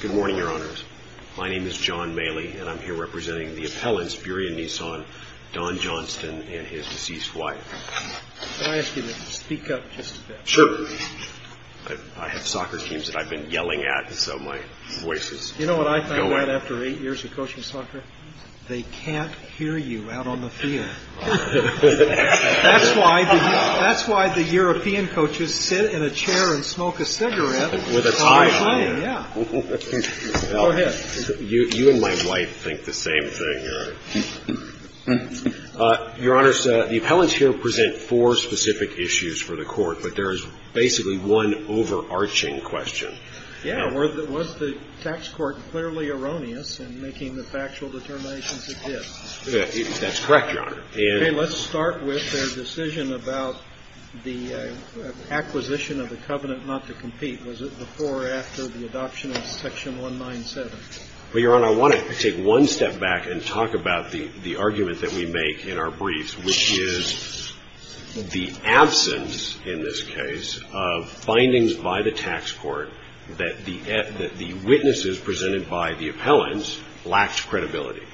Good morning, Your Honors. My name is John Maley, and I'm here representing the appellants Burien Nissan, Don Johnston, and his deceased wife. Can I ask you to speak up just a bit? Sure. I have soccer teams that I've been yelling at, so my voice is going. You know what I find out after eight years of coaching soccer? They can't hear you out on the field. That's why the European coaches sit in a chair and smoke a cigarette while playing. With a tie on it. Yeah. Go ahead. You and my wife think the same thing, Your Honor. Your Honors, the appellants here present four specific issues for the Court, but there is basically one overarching question. Yeah. Was the tax court clearly erroneous in making the factual determinations it did? That's correct, Your Honor. Okay. Let's start with their decision about the acquisition of the covenant not to compete. Was it before or after the adoption of Section 197? Well, Your Honor, I want to take one step back and talk about the argument that we make in our briefs, which is the absence, in this case, of findings by the tax court that the witnesses presented by the appellants lacked credibility.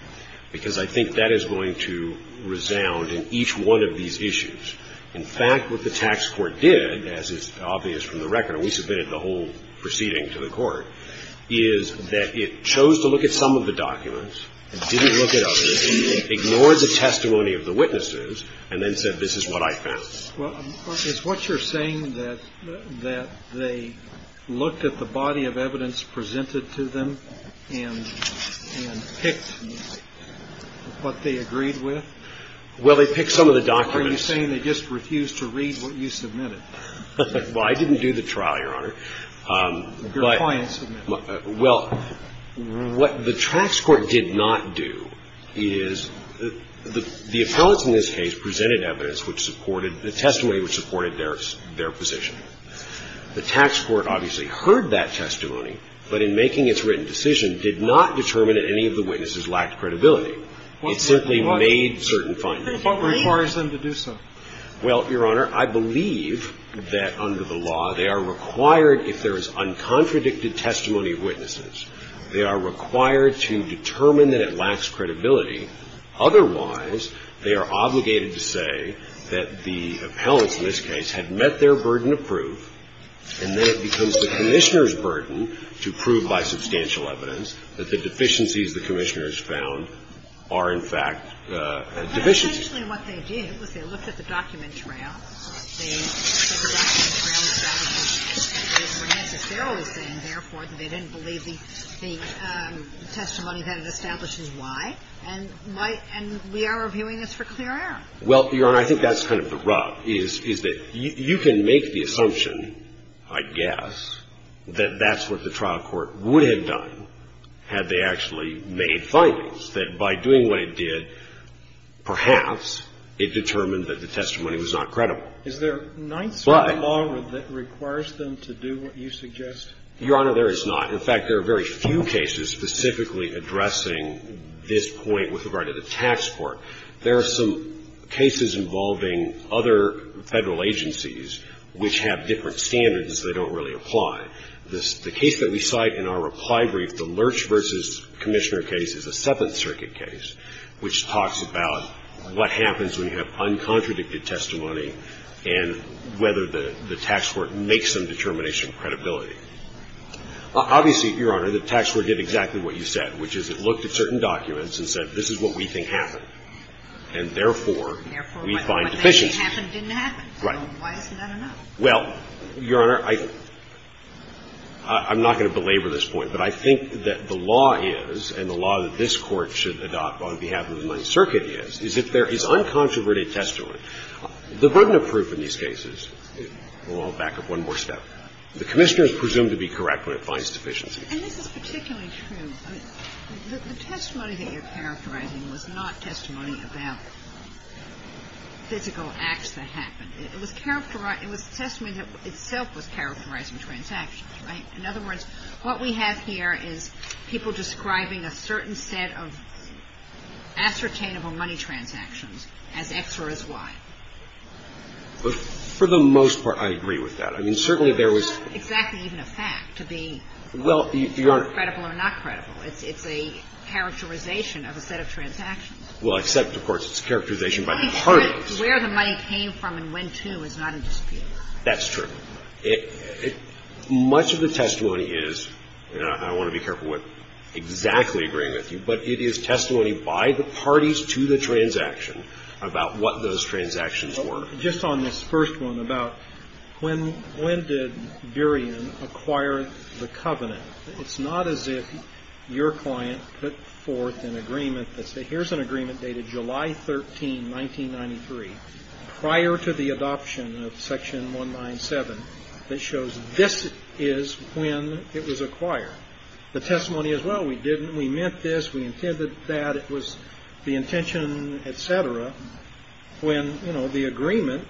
Because I think that is going to resound in each one of these issues. In fact, what the tax court did, as is obvious from the record, and we submitted the whole proceeding to the court, is that it chose to look at some of the documents and didn't look at others, ignored the testimony of the witnesses, and then said, this is what I found. Well, is what you're saying that they looked at the body of evidence presented to them and picked what they agreed with? Well, they picked some of the documents. Are you saying they just refused to read what you submitted? Well, I didn't do the trial, Your Honor. Your client submitted it. Well, what the tax court did not do is the appellants in this case presented evidence which supported the testimony which supported their position. The tax court obviously heard that testimony, but in making its written decision, did not determine that any of the witnesses lacked credibility. It simply made certain findings. What requires them to do so? Well, Your Honor, I believe that under the law, they are required, if there is uncontradicted testimony of witnesses, they are required to determine that it lacks credibility. Otherwise, they are obligated to say that the appellants in this case had met their burden of proof, and then it becomes the Commissioner's burden to prove by substantial evidence that the deficiencies the Commissioners found are, in fact, deficiencies. Initially, what they did was they looked at the document trail. They said the document trail established that they were necessarily saying, therefore, that they didn't believe the testimony that it establishes why. And we are reviewing this for clear error. Well, Your Honor, I think that's kind of the rub, is that you can make the assumption, I guess, that that's what the trial court would have done had they actually made findings, that by doing what it did, perhaps it determined that the testimony was not credible. Is there a ninth-degree law that requires them to do what you suggest? Your Honor, there is not. In fact, there are very few cases specifically addressing this point with regard to the tax court. There are some cases involving other Federal agencies which have different standards that don't really apply. The case that we cite in our reply brief, the Lurch v. Commissioner case, is a Seventh Circuit case, which talks about what happens when you have uncontradicted testimony and whether the tax court makes some determination of credibility. Obviously, Your Honor, the tax court did exactly what you said, which is it looked at certain documents and said, this is what we think happened, and therefore, we find deficiencies. Therefore, what they think happened didn't happen. So why isn't that enough? Well, Your Honor, I'm not going to belabor this point, but I think that the law is, and the law that this Court should adopt on behalf of the Ninth Circuit is, is that there is uncontroverted testimony. The burden of proof in these cases – well, I'll back up one more step. The Commissioner is presumed to be correct when it finds deficiencies. And this is particularly true. The testimony that you're characterizing was not testimony about physical acts that happened. It was testimony that itself was characterizing transactions, right? In other words, what we have here is people describing a certain set of ascertainable money transactions as X or as Y. But for the most part, I agree with that. I mean, certainly there was – It's not exactly even a fact to be – Well, Your Honor –– credible or not credible. It's a characterization of a set of transactions. Well, except, of course, it's a characterization by the parties. Where the money came from and went to is not a dispute. That's true. Much of the testimony is – and I want to be careful what exactly I'm agreeing with you – but it is testimony by the parties to the transaction about what those transactions were. Just on this first one about when did Burien acquire the covenant, it's not as if your 13, 1993, prior to the adoption of Section 197, that shows this is when it was acquired. The testimony is, well, we didn't – we meant this, we intended that, it was the intention, et cetera, when, you know, the agreement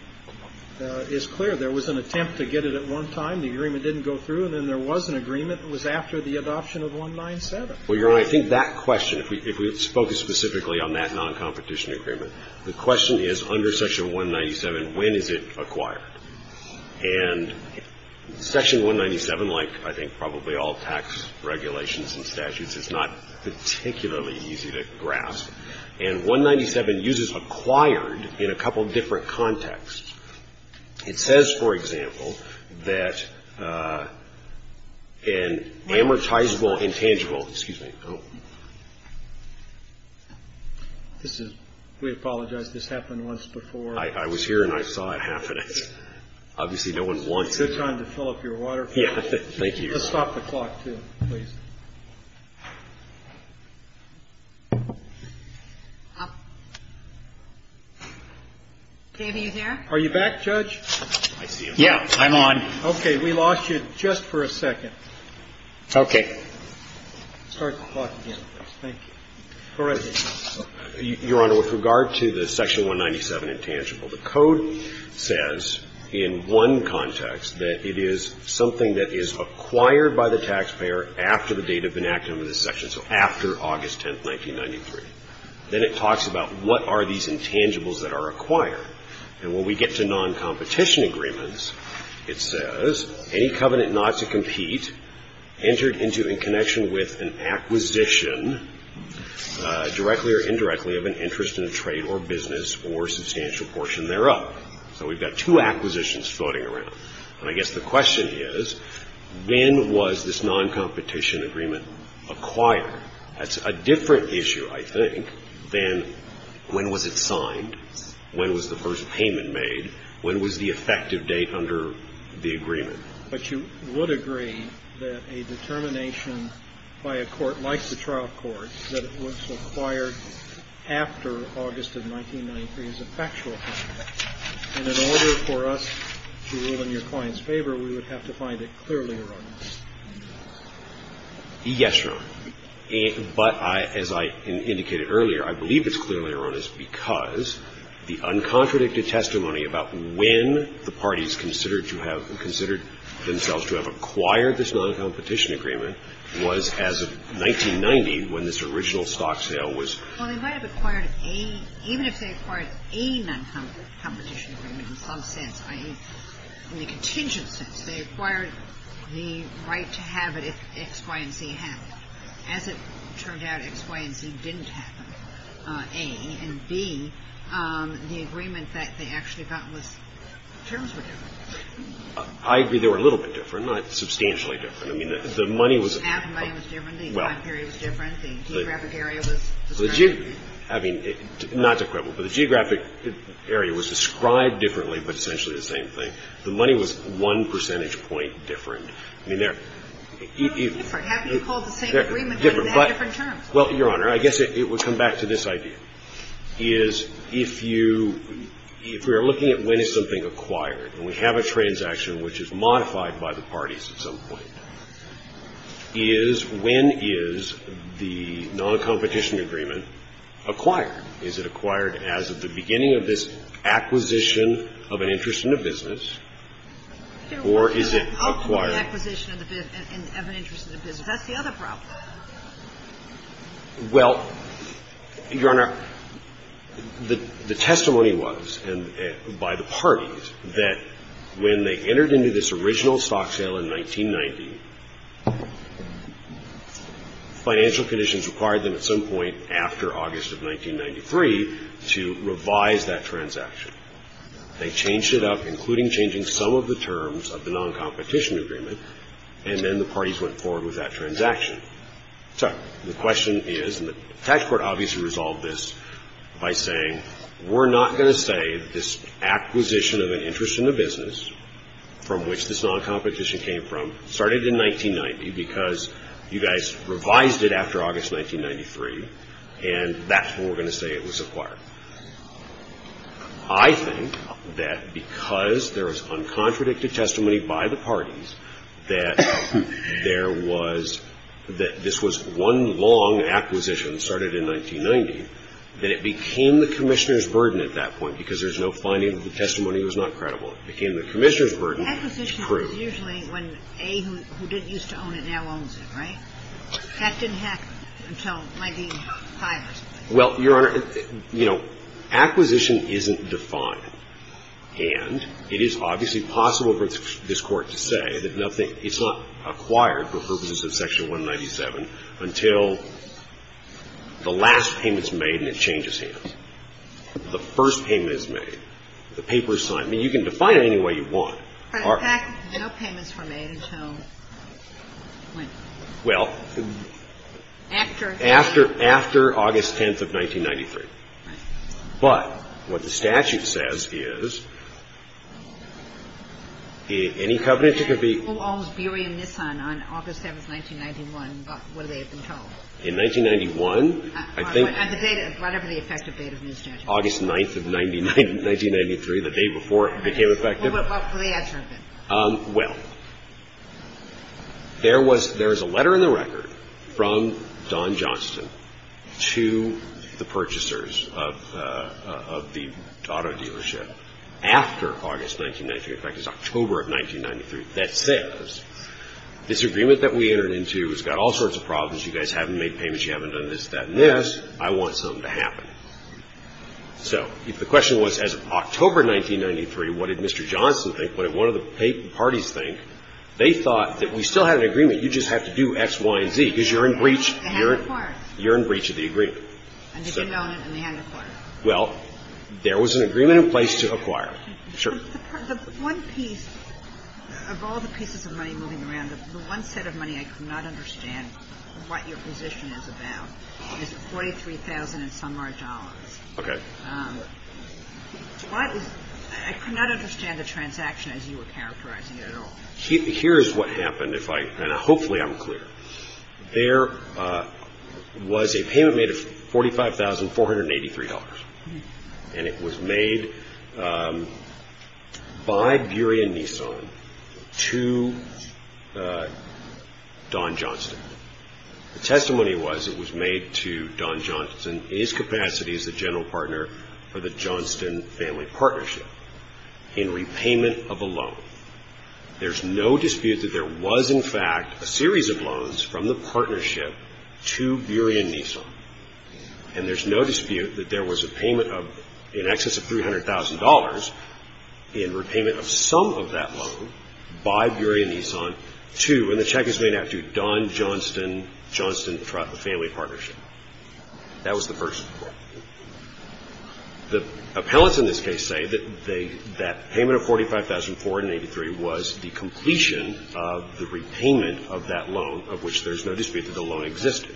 is clear. There was an attempt to get it at one time. The agreement didn't go through. And then there was an agreement that was after the adoption of 197. Well, Your Honor, I think that question, if we focus specifically on that non-competition agreement, the question is, under Section 197, when is it acquired? And Section 197, like I think probably all tax regulations and statutes, is not particularly easy to grasp. And 197 uses acquired in a couple different contexts. It says, for example, that an amortizable intangible – excuse me. Oh. This is – we apologize. This happened once before. I was here and I saw it happening. Obviously, no one wants it. Good time to fill up your water. Yeah. Thank you, Your Honor. Let's stop the clock, too, please. Are you back, Judge? Yeah. I'm on. Okay. We lost you just for a second. Okay. Start the clock again, please. Thank you. Go right ahead. Your Honor, with regard to the Section 197 intangible, the Code says in one context that it is something that is acquired by the taxpayer after the date of enactment of this section. So after August 10, 1993. Then it talks about what are these intangibles that are acquired. And when we get to non-competition agreements, it says, any covenant not to compete entered into in connection with an acquisition, directly or indirectly, of an interest in a trade or business or substantial portion thereof. So we've got two acquisitions floating around. And I guess the question is, when was this non-competition agreement acquired? That's a different issue, I think, than when was it signed, when was the first payment made, when was the effective date under the agreement. But you would agree that a determination by a court like the trial court that it was acquired after August of 1993 is a factual fact. And in order for us to rule in your client's favor, we would have to find it clearly erroneous. Yes, Your Honor. But as I indicated earlier, I believe it's clearly erroneous because the uncontradicted testimony about when the parties considered themselves to have acquired this non-competition agreement was as of 1990 when this original stock sale was. Well, they might have acquired a, even if they acquired a non-competition agreement in some sense, i.e. in the contingent sense, they acquired the right to have it if X, Y, and Z happened. As it turned out, X, Y, and Z didn't happen, A. And B, the agreement that they actually got was, terms were different. I agree they were a little bit different, not substantially different. I mean, the money was – Half the money was different. The time period was different. The geographic area was described differently. I mean, not to quibble, but the geographic area was described differently, but essentially the same thing. The money was one percentage point different. I mean, they're – They were different. How can you call the same agreement on ten different terms? Well, Your Honor, I guess it would come back to this idea, is if you – if we are looking at when is something acquired, and we have a transaction which is modified by the parties at some point, is when is the noncompetition agreement acquired? Is it acquired as of the beginning of this acquisition of an interest in a business, or is it acquired – How can it be acquisition of an interest in a business? That's the other problem. Well, Your Honor, the testimony was by the parties that when they entered into this in 1990, financial conditions required them at some point after August of 1993 to revise that transaction. They changed it up, including changing some of the terms of the noncompetition agreement, and then the parties went forward with that transaction. So the question is – and the tax court obviously resolved this by saying, we're not going to say this acquisition of an interest in a business from which this noncompetition came from started in 1990 because you guys revised it after August 1993, and that's when we're going to say it was acquired. I think that because there was uncontradicted testimony by the parties that there was – that this was one long acquisition that started in 1990, that it became the commissioner's burden to prove. But acquisition is usually when A, who didn't used to own it, now owns it, right? That didn't happen until 1995 or something. Well, Your Honor, you know, acquisition isn't defined, and it is obviously possible for this Court to say that nothing – it's not acquired for purposes of Section 197 until the last payment's made and it changes hands. The first payment is made. The paper is signed. I mean, you can define it any way you want. But in fact, no payments were made until when? Well, after August 10th of 1993. Right. But what the statute says is any covenants that could be – And who owns Beery and Nissan on August 7th, 1991? What do they have been told? In 1991, I think – And the date of – whatever the effective date of the statute? August 9th of 1993, the day before it became effective. Well, what was the answer of it? Well, there was – there is a letter in the record from Don Johnston to the purchasers of the auto dealership after August 1993. In fact, it's October of 1993 that says, this agreement that we entered into has got all sorts of problems. You guys haven't made payments. You haven't done this, that, and this. I want something to happen. So if the question was, as of October 1993, what did Mr. Johnston think? What did one of the parties think? They thought that we still had an agreement. You just have to do X, Y, and Z because you're in breach. They hadn't acquired. You're in breach of the agreement. And they didn't own it and they hadn't acquired it. Well, there was an agreement in place to acquire. Sure. The one piece of all the pieces of money moving around, the one set of money I could not understand what your position is about is $43,000 and some large dollars. Okay. I could not understand the transaction as you were characterizing it at all. Here is what happened, and hopefully I'm clear. There was a payment made of $45,483, and it was made by Beery and Nissan to Don Johnston. The testimony was it was made to Don Johnston in his capacity as the general partner for the Johnston Family Partnership in repayment of a loan. There's no dispute that there was, in fact, a series of loans from the partnership to Beery and Nissan, and there's no dispute that there was a payment of in excess of $300,000 in repayment of some of that loan by Beery and Nissan to, and the check is made out to, Don Johnston Johnston Family Partnership. That was the person. The appellants in this case say that payment of $45,483 was the completion of the repayment of that loan, of which there's no dispute that the loan existed.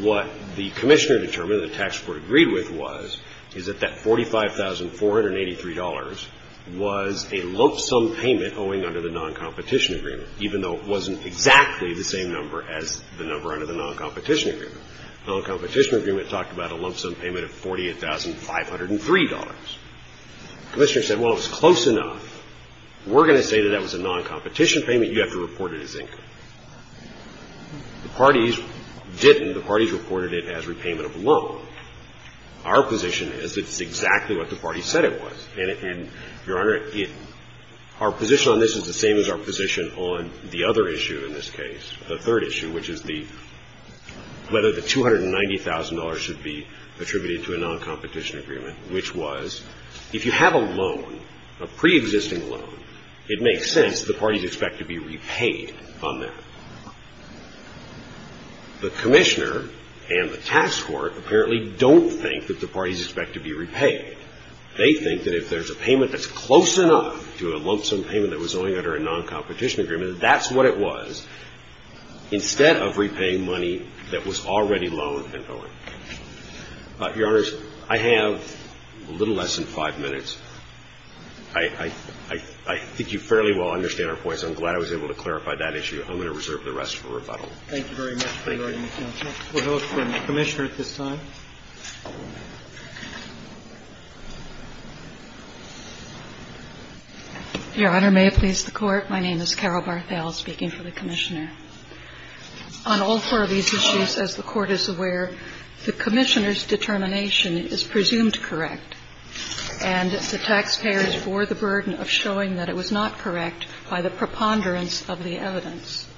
What the commissioner determined and the tax court agreed with was, is that that $45,483 was a lump sum payment owing under the non-competition agreement, even though it wasn't exactly the same number as the number under the non-competition agreement. The non-competition agreement talked about a lump sum payment of $48,503. The commissioner said, well, it was close enough. We're going to say that that was a non-competition payment. You have to report it as income. The parties didn't. The parties reported it as repayment of a loan. Our position is it's exactly what the parties said it was. And, Your Honor, our position on this is the same as our position on the other issue in this case, the third issue, which is the, whether the $290,000 should be attributed to a non-competition agreement, which was, if you have a loan, a preexisting loan, it makes sense that the parties expect to be repaid on that. The commissioner and the tax court apparently don't think that the parties expect to be repaid. They think that if there's a payment that's close enough to a lump sum payment that was owing under a non-competition agreement, that that's what it was, instead of repaying money that was already loaned and owing. Your Honors, I have a little less than five minutes. I think you fairly well understand our points. I'm glad I was able to clarify that issue. I'm going to reserve the rest for rebuttal. Thank you. Roberts. We'll go to the Commissioner at this time. Your Honor, may it please the Court. My name is Carol Barthel, speaking for the Commissioner. On all four of these issues, as the Court is aware, the Commissioner's determination is presumed correct, and the taxpayers bore the burden of showing that it was not correct by the preponderance of the evidence.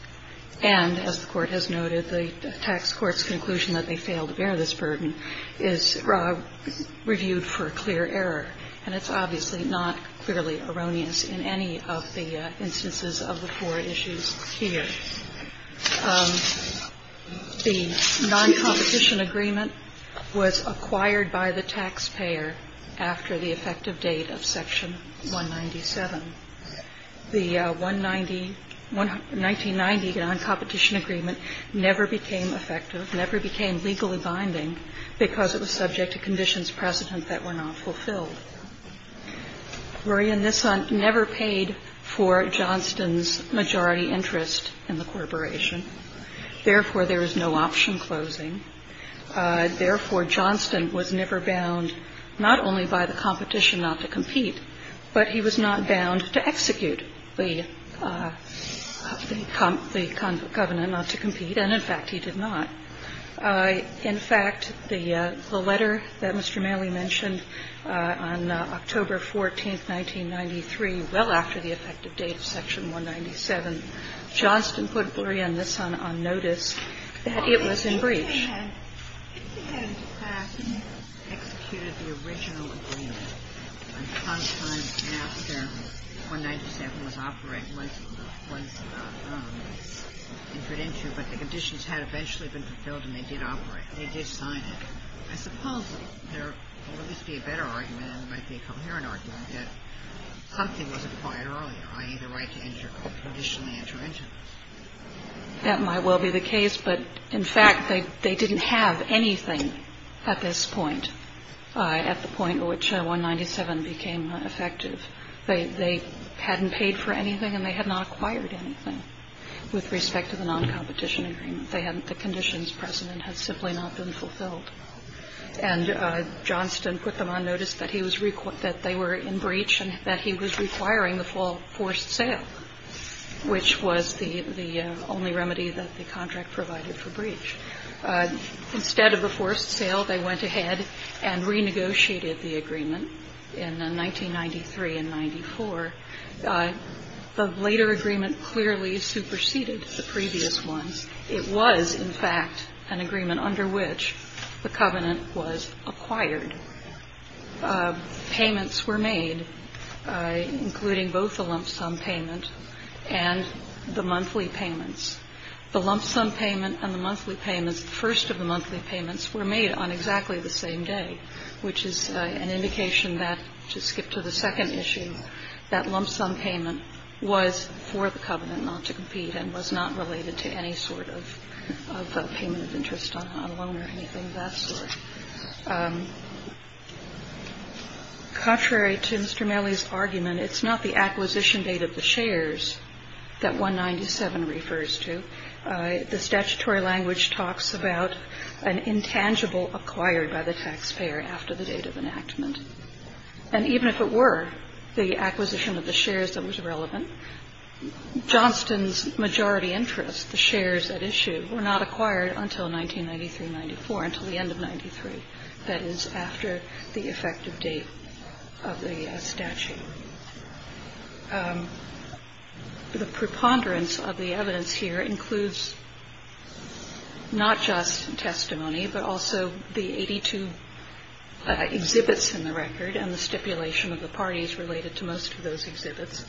And, as the Court has noted, the tax court's conclusion that they failed to bear this burden is reviewed for clear error, and it's obviously not clearly erroneous in any of the instances of the four issues here. The non-competition agreement was acquired by the taxpayer after the effective date of Section 197. The 1990 non-competition agreement never became effective, never became legally binding, because it was subject to conditions precedent that were not fulfilled. Maria Nisant never paid for Johnston's majority interest in the corporation. Therefore, there is no option closing. Therefore, Johnston was never bound not only by the competition not to compete, but he was not bound to execute the covenant not to compete, and, in fact, he did In fact, the letter that Mr. Manley mentioned on October 14, 1993, well after the effective date of Section 197, Johnston put Maria Nisant on notice that it was in breach. I suppose there would at least be a better argument, and there might be a coherent argument, that something was acquired earlier, i.e., the right to traditionally enter into this. That might well be the case. They didn't. They didn't. They didn't. They didn't have anything at this point, at the point at which 197 became effective. They hadn't paid for anything, and they had not acquired anything with respect to the non-competition agreement. They hadn't. The conditions precedent had simply not been fulfilled. And Johnston put them on notice that they were in breach and that he was requiring the full forced sale, which was the only remedy that the contract provided for breach. Instead of a forced sale, they went ahead and renegotiated the agreement in 1993 and 94. The later agreement clearly superseded the previous ones. It was, in fact, an agreement under which the covenant was acquired. Payments were made, including both the lump sum payment and the monthly payments. The lump sum payment and the monthly payments, the first of the monthly payments, were made on exactly the same day, which is an indication that, to skip to the second issue, that lump sum payment was for the covenant not to compete and was not related to any sort of payment of interest on a loan or anything of that sort. Contrary to Mr. Marley's argument, it's not the acquisition date of the shares that 197 refers to. The statutory language talks about an intangible acquired by the taxpayer after the date of enactment. And even if it were the acquisition of the shares that was relevant, Johnston's majority interest, the shares at issue, were not acquired until 1993-94, until the end of 93. That is, after the effective date of the statute. The preponderance of the evidence here includes not just testimony, but also the 82 exhibits in the record and the stipulation of the parties related to most of those exhibits.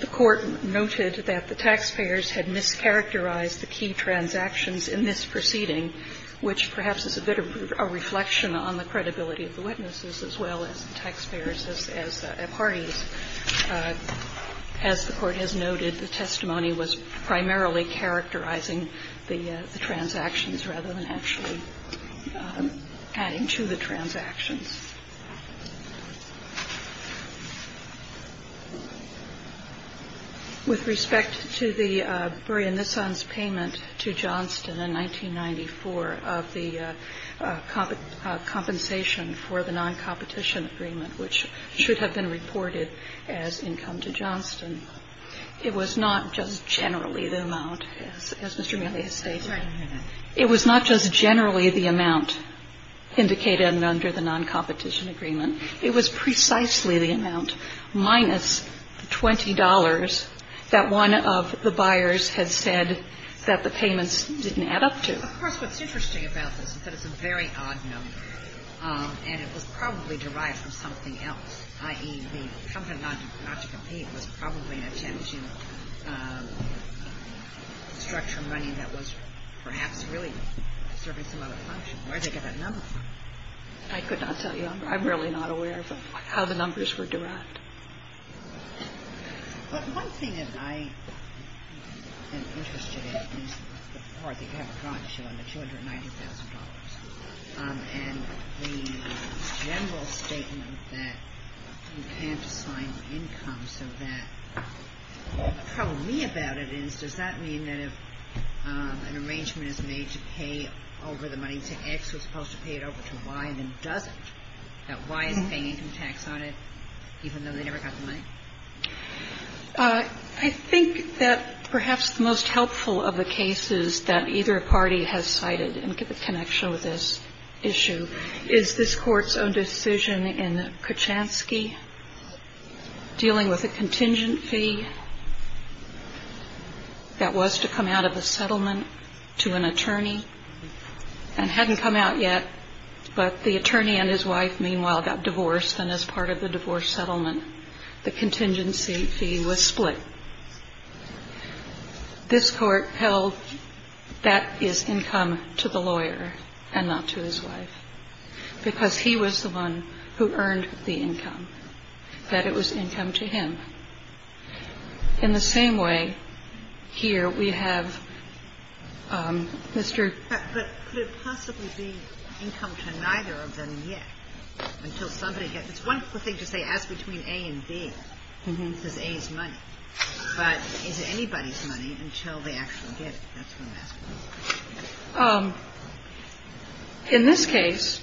The Court noted that the taxpayers had mischaracterized the key transactions in this proceeding, which perhaps is a bit of a reflection on the credibility of the witnesses as well as the taxpayers as the parties. As the Court has noted, the testimony was primarily characterizing the transactions rather than actually adding to the transactions. With respect to the Brea Nissan's payment to Johnston in 1994 of the compensation for the noncompetition agreement, which should have been reported as income to Johnston, it was not just generally the amount, as Mr. Meehan has stated. It was not just generally the amount indicated under the noncompetition agreement. It was precisely the amount minus the $20 that one of the buyers had said that the payments didn't add up to. Of course, what's interesting about this is that it's a very odd number. And it was probably derived from something else, i.e., the company not to compete was probably not changing the structure of money that was perhaps really serving some other function. Where did they get that number from? I could not tell you. I'm really not aware of how the numbers were derived. But one thing that I am interested in is the $290,000. And the general statement that you can't assign income so that the problem to me about it is, does that mean that if an arrangement is made to pay over the money to X, we're supposed to pay it over to Y, and then it doesn't? That Y is paying income tax on it even though they never got the money? I think that perhaps the most helpful of the cases that either party has cited in connection with this issue is this Court's own decision in Kachansky dealing with a contingent fee that was to come out of a settlement to an attorney and hadn't come out yet, but the attorney and his wife, meanwhile, got divorced. And as part of the divorce settlement, the contingency fee was split. This Court held that is income to the lawyer and not to his wife because he was the one who earned the income, that it was income to him. In the same way, here we have Mr. ---- But could it possibly be income to neither of them yet? Until somebody gets ---- it's one thing to say ask between A and B because A is money. But is it anybody's money until they actually get it? That's what I'm asking. In this case,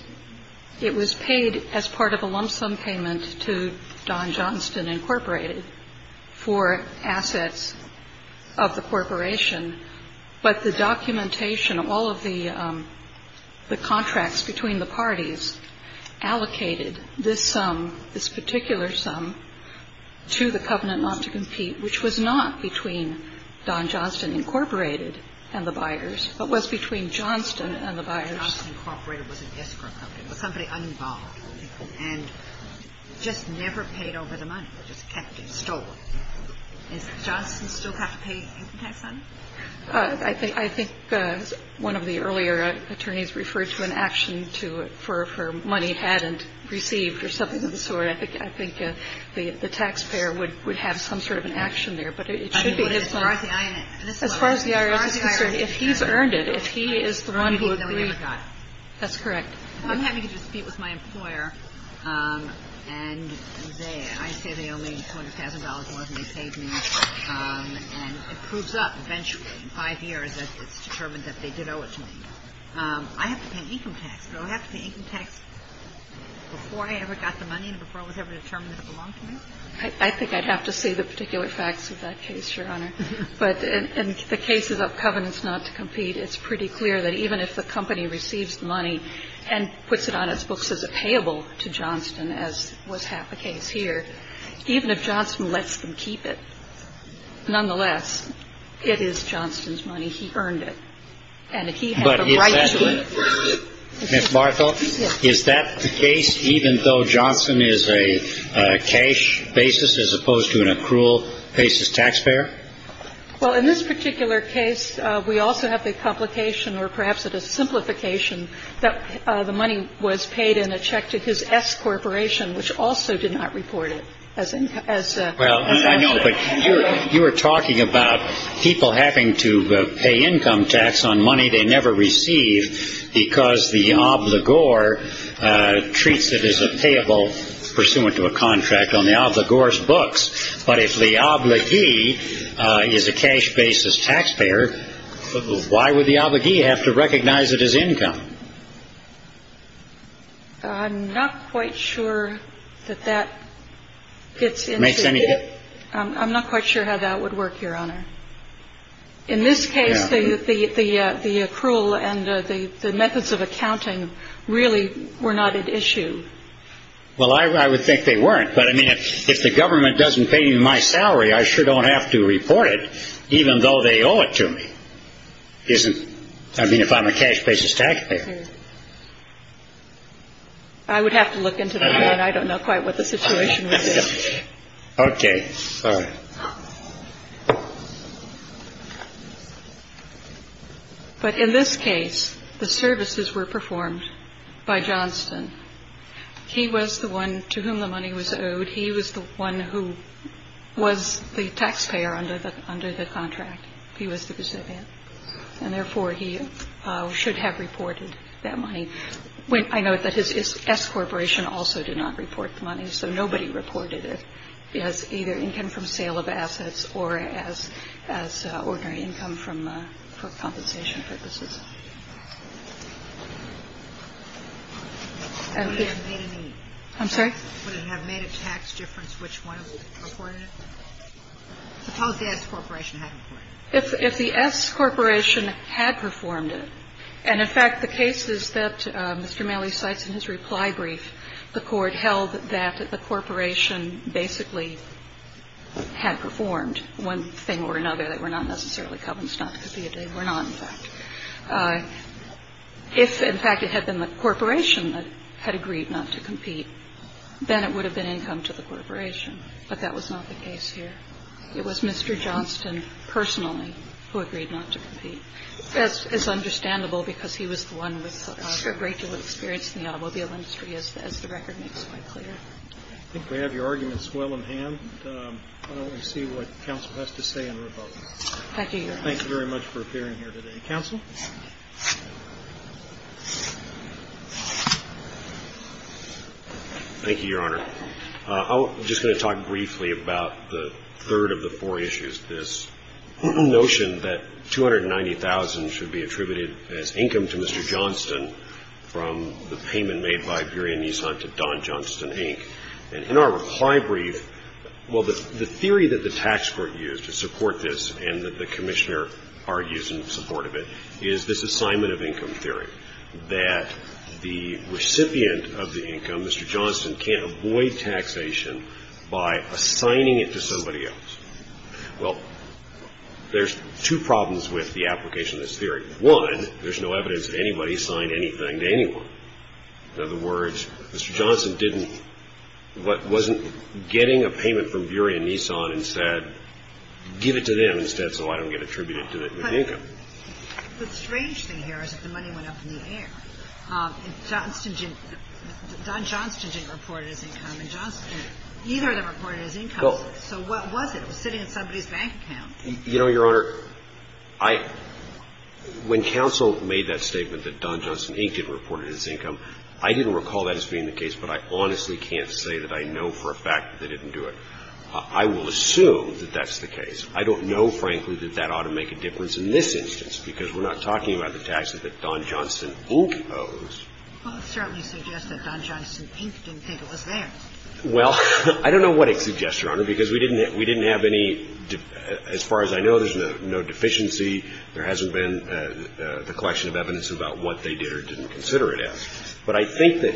it was paid as part of a lump sum payment to Don Johnston Incorporated for assets of the corporation. But the documentation of all of the contracts between the parties allocated this sum, this particular sum, to the covenant not to compete, which was not between Don Johnston Incorporated and the buyers, but was between Johnston and the buyers. But Donald Johnson Incorporated was a escrow company. It was somebody unoccupied, and just never paid over the money. They just kept it, stole it. Does Johnston still have to pay income tax fund? I think, as one of the earlier attorneys referred to, an action for money he hadn't received or something of the sort, I think, I think the taxpayer would have some sort of an action there. But it should be his money. As far as the IRS is concerned, if he's earned it, if he is the one who agreed. That's correct. I'm happy to just speak with my employer, and I say they owe me $200,000 more than they paid me. And it proves up eventually, in five years, that it's determined that they did owe it to me. I have to pay income tax. Do I have to pay income tax before I ever got the money and before I was ever determined it belonged to me? I think I'd have to see the particular facts of that case, Your Honor. But in the cases of Covenants Not to Compete, it's pretty clear that even if the company receives the money and puts it on its books as a payable to Johnston, as was half the case here, even if Johnston lets them keep it, nonetheless, it is Johnston's money. He earned it. And he had the right to keep it. Ms. Barthel, is that the case, even though Johnston is a cash basis as opposed to an accrual basis taxpayer? Well, in this particular case, we also have the complication, or perhaps it is simplification, that the money was paid in a check to his S Corporation, which also did not report it as income tax. Well, I know, but you were talking about people having to pay income tax on money they never receive because the obligor treats it as a payable pursuant to a contract on the obligor's books. But if the obligee is a cash basis taxpayer, why would the obligee have to recognize it as income? I'm not quite sure that that gets into it. I'm not quite sure how that would work, Your Honor. In this case, the accrual and the methods of accounting really were not at issue. Well, I would think they weren't. But, I mean, if the government doesn't pay me my salary, I sure don't have to report it, even though they owe it to me. I mean, if I'm a cash basis taxpayer. I would have to look into that. I don't know quite what the situation would be. Okay, fine. But in this case, the services were performed by Johnston. He was the one to whom the money was owed. He was the one who was the taxpayer under the contract. He was the recipient. And, therefore, he should have reported that money. And I note that his S-Corporation also did not report the money. So nobody reported it as either income from sale of assets or as ordinary income from compensation purposes. I'm sorry? Would it have made a tax difference which one reported it? Suppose the S-Corporation had reported it. If the S-Corporation had performed it, and, in fact, the cases that Mr. Maley cites in his reply brief, the Court held that the Corporation basically had performed one thing or another. They were not necessarily covenants not to compete. They were not, in fact. If, in fact, it had been the Corporation that had agreed not to compete, then it would have been income to the Corporation. But that was not the case here. It was Mr. Johnston personally who agreed not to compete. That's understandable because he was the one with a great deal of experience in the automobile industry, as the record makes quite clear. I think we have your arguments well in hand. Why don't we see what counsel has to say in rebuttal. Thank you, Your Honor. Thank you very much for appearing here today. Counsel? Thank you, Your Honor. I'm just going to talk briefly about the third of the four issues, this notion that $290,000 should be attributed as income to Mr. Johnston from the payment made by Burian Nissan to Don Johnston, Inc. And in our reply brief, well, the theory that the tax court used to support this and that the Commissioner argues in support of it is this assignment of income theory, that the recipient of the income, Mr. Johnston, can't avoid taxation by assigning it to somebody else. Well, there's two problems with the application of this theory. One, there's no evidence that anybody signed anything to anyone. In other words, Mr. Johnston didn't, wasn't getting a payment from Burian Nissan and said, give it to them instead so I don't get attributed to the income. The strange thing here is that the money went up in the air. Johnston didn't – Don Johnston didn't report it as income and Johnston – either of them reported it as income. So what was it? It was sitting in somebody's bank account. You know, Your Honor, I – when counsel made that statement that Don Johnston, Inc. didn't report it as income, I didn't recall that as being the case, but I honestly can't say that I know for a fact that they didn't do it. I will assume that that's the case. I don't know, frankly, that that ought to make a difference in this instance because we're not talking about the taxes that Don Johnston, Inc. owes. Well, it certainly suggests that Don Johnston, Inc. didn't think it was theirs. Well, I don't know what it suggests, Your Honor, because we didn't have any – as far as I know, there's no deficiency. There hasn't been the question of evidence about what they did or didn't consider it as. But I think that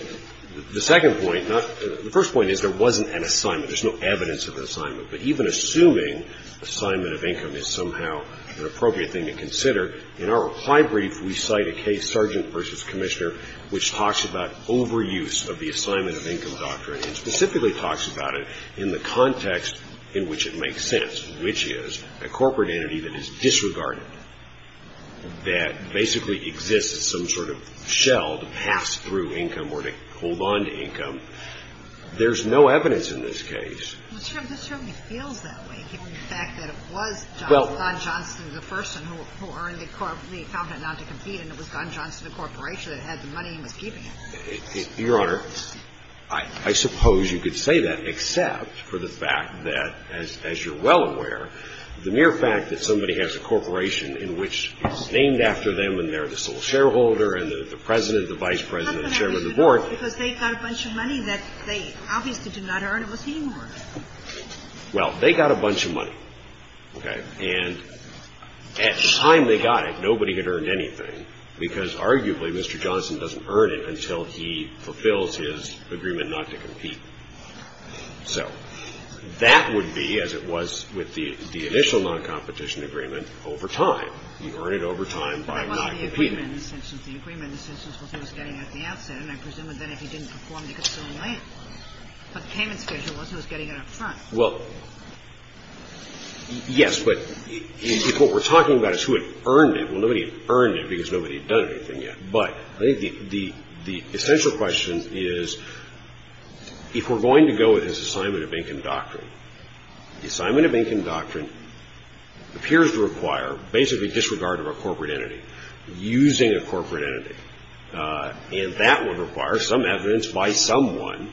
the second point – the first point is there wasn't an assignment. There's no evidence of an assignment. But even assuming assignment of income is somehow an appropriate thing to consider, in our reply brief we cite a case, Sergeant v. Commissioner, which talks about overuse of the assignment of income doctrine and specifically talks about it in the context in which it makes sense, which is a corporate entity that is disregarded, that basically exists as some sort of shell to pass through income or to hold on to income. There's no evidence in this case. Well, this certainly feels that way, given the fact that it was Don Johnston, the person who earned the accountant not to compete, and it was Don Johnston, the corporation that had the money and was keeping it. Your Honor, I suppose you could say that, except for the fact that, as you're well aware, the mere fact that somebody has a corporation in which it's named after them and they're the sole shareholder and the president, the vice president, the chairman of the board. Well, they got a bunch of money. Okay. And at the time they got it, nobody had earned anything because, arguably, Mr. Johnston doesn't earn it until he fulfills his agreement not to compete. So that would be as it was with the initial noncompetition agreement over time. You earn it over time by not competing. Well, yes, but if what we're talking about is who had earned it, well, nobody had earned it because nobody had done anything yet. But I think the essential question is, if we're going to go with his assignment of income doctrine, the assignment of income doctrine appears to require using a corporate entity. And that would require some evidence by someone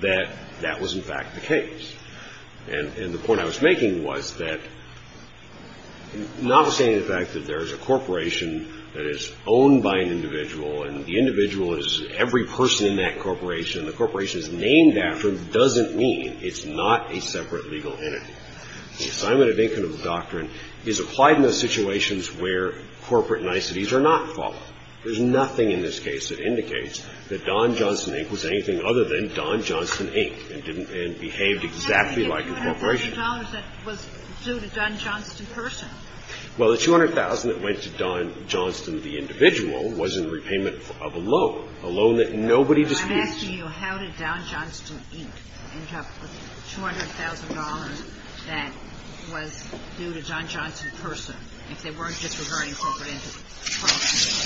that that was, in fact, the case. And the point I was making was that, notwithstanding the fact that there is a corporation that is owned by an individual and the individual is every person in that corporation, the corporation is named after them doesn't mean it's not a separate legal entity. The assignment of income doctrine is applied in the situations where corporate entities are not followed. There's nothing in this case that indicates that Don Johnston, Inc. was anything other than Don Johnston, Inc. and behaved exactly like a corporation. The $200,000 that was due to Don Johnston, the individual, was in repayment of a loan, a loan that nobody disputes. I'm asking you, how did Don Johnston, Inc. end up with $200,000 that was due to Don Johnston, the individual, if they weren't disregarding corporate entities?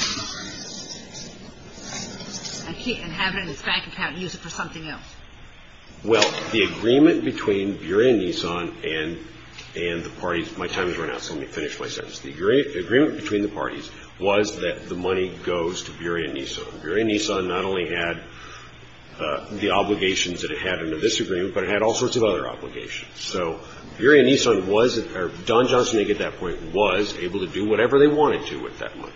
And have it in his bank account and use it for something else? Well, the agreement between Bureau and Nissan and the parties – my time has run out, so let me finish my sentence. The agreement between the parties was that the money goes to Bureau and Nissan. Bureau and Nissan not only had the obligations that it had under this agreement, but it had all sorts of other obligations. So Bureau and Nissan was – or Don Johnston, Inc. at that point was able to do whatever they wanted to with that money,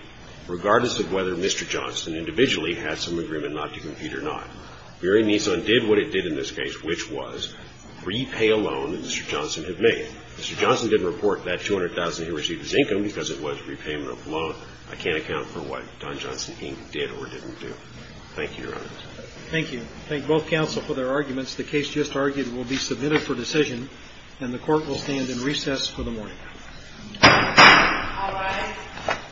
regardless of whether Mr. Johnston individually had some agreement not to compete or not. Bureau and Nissan did what it did in this case, which was repay a loan that Mr. Johnston had made. Mr. Johnston didn't report that $200,000 he received as income because it was repayment of a loan. I can't account for what Don Johnston, Inc. did or didn't do. Thank you, Your Honor. Thank you. Thank both counsel for their arguments. The case just argued will be submitted for decision, and the court will stand in recess for the morning.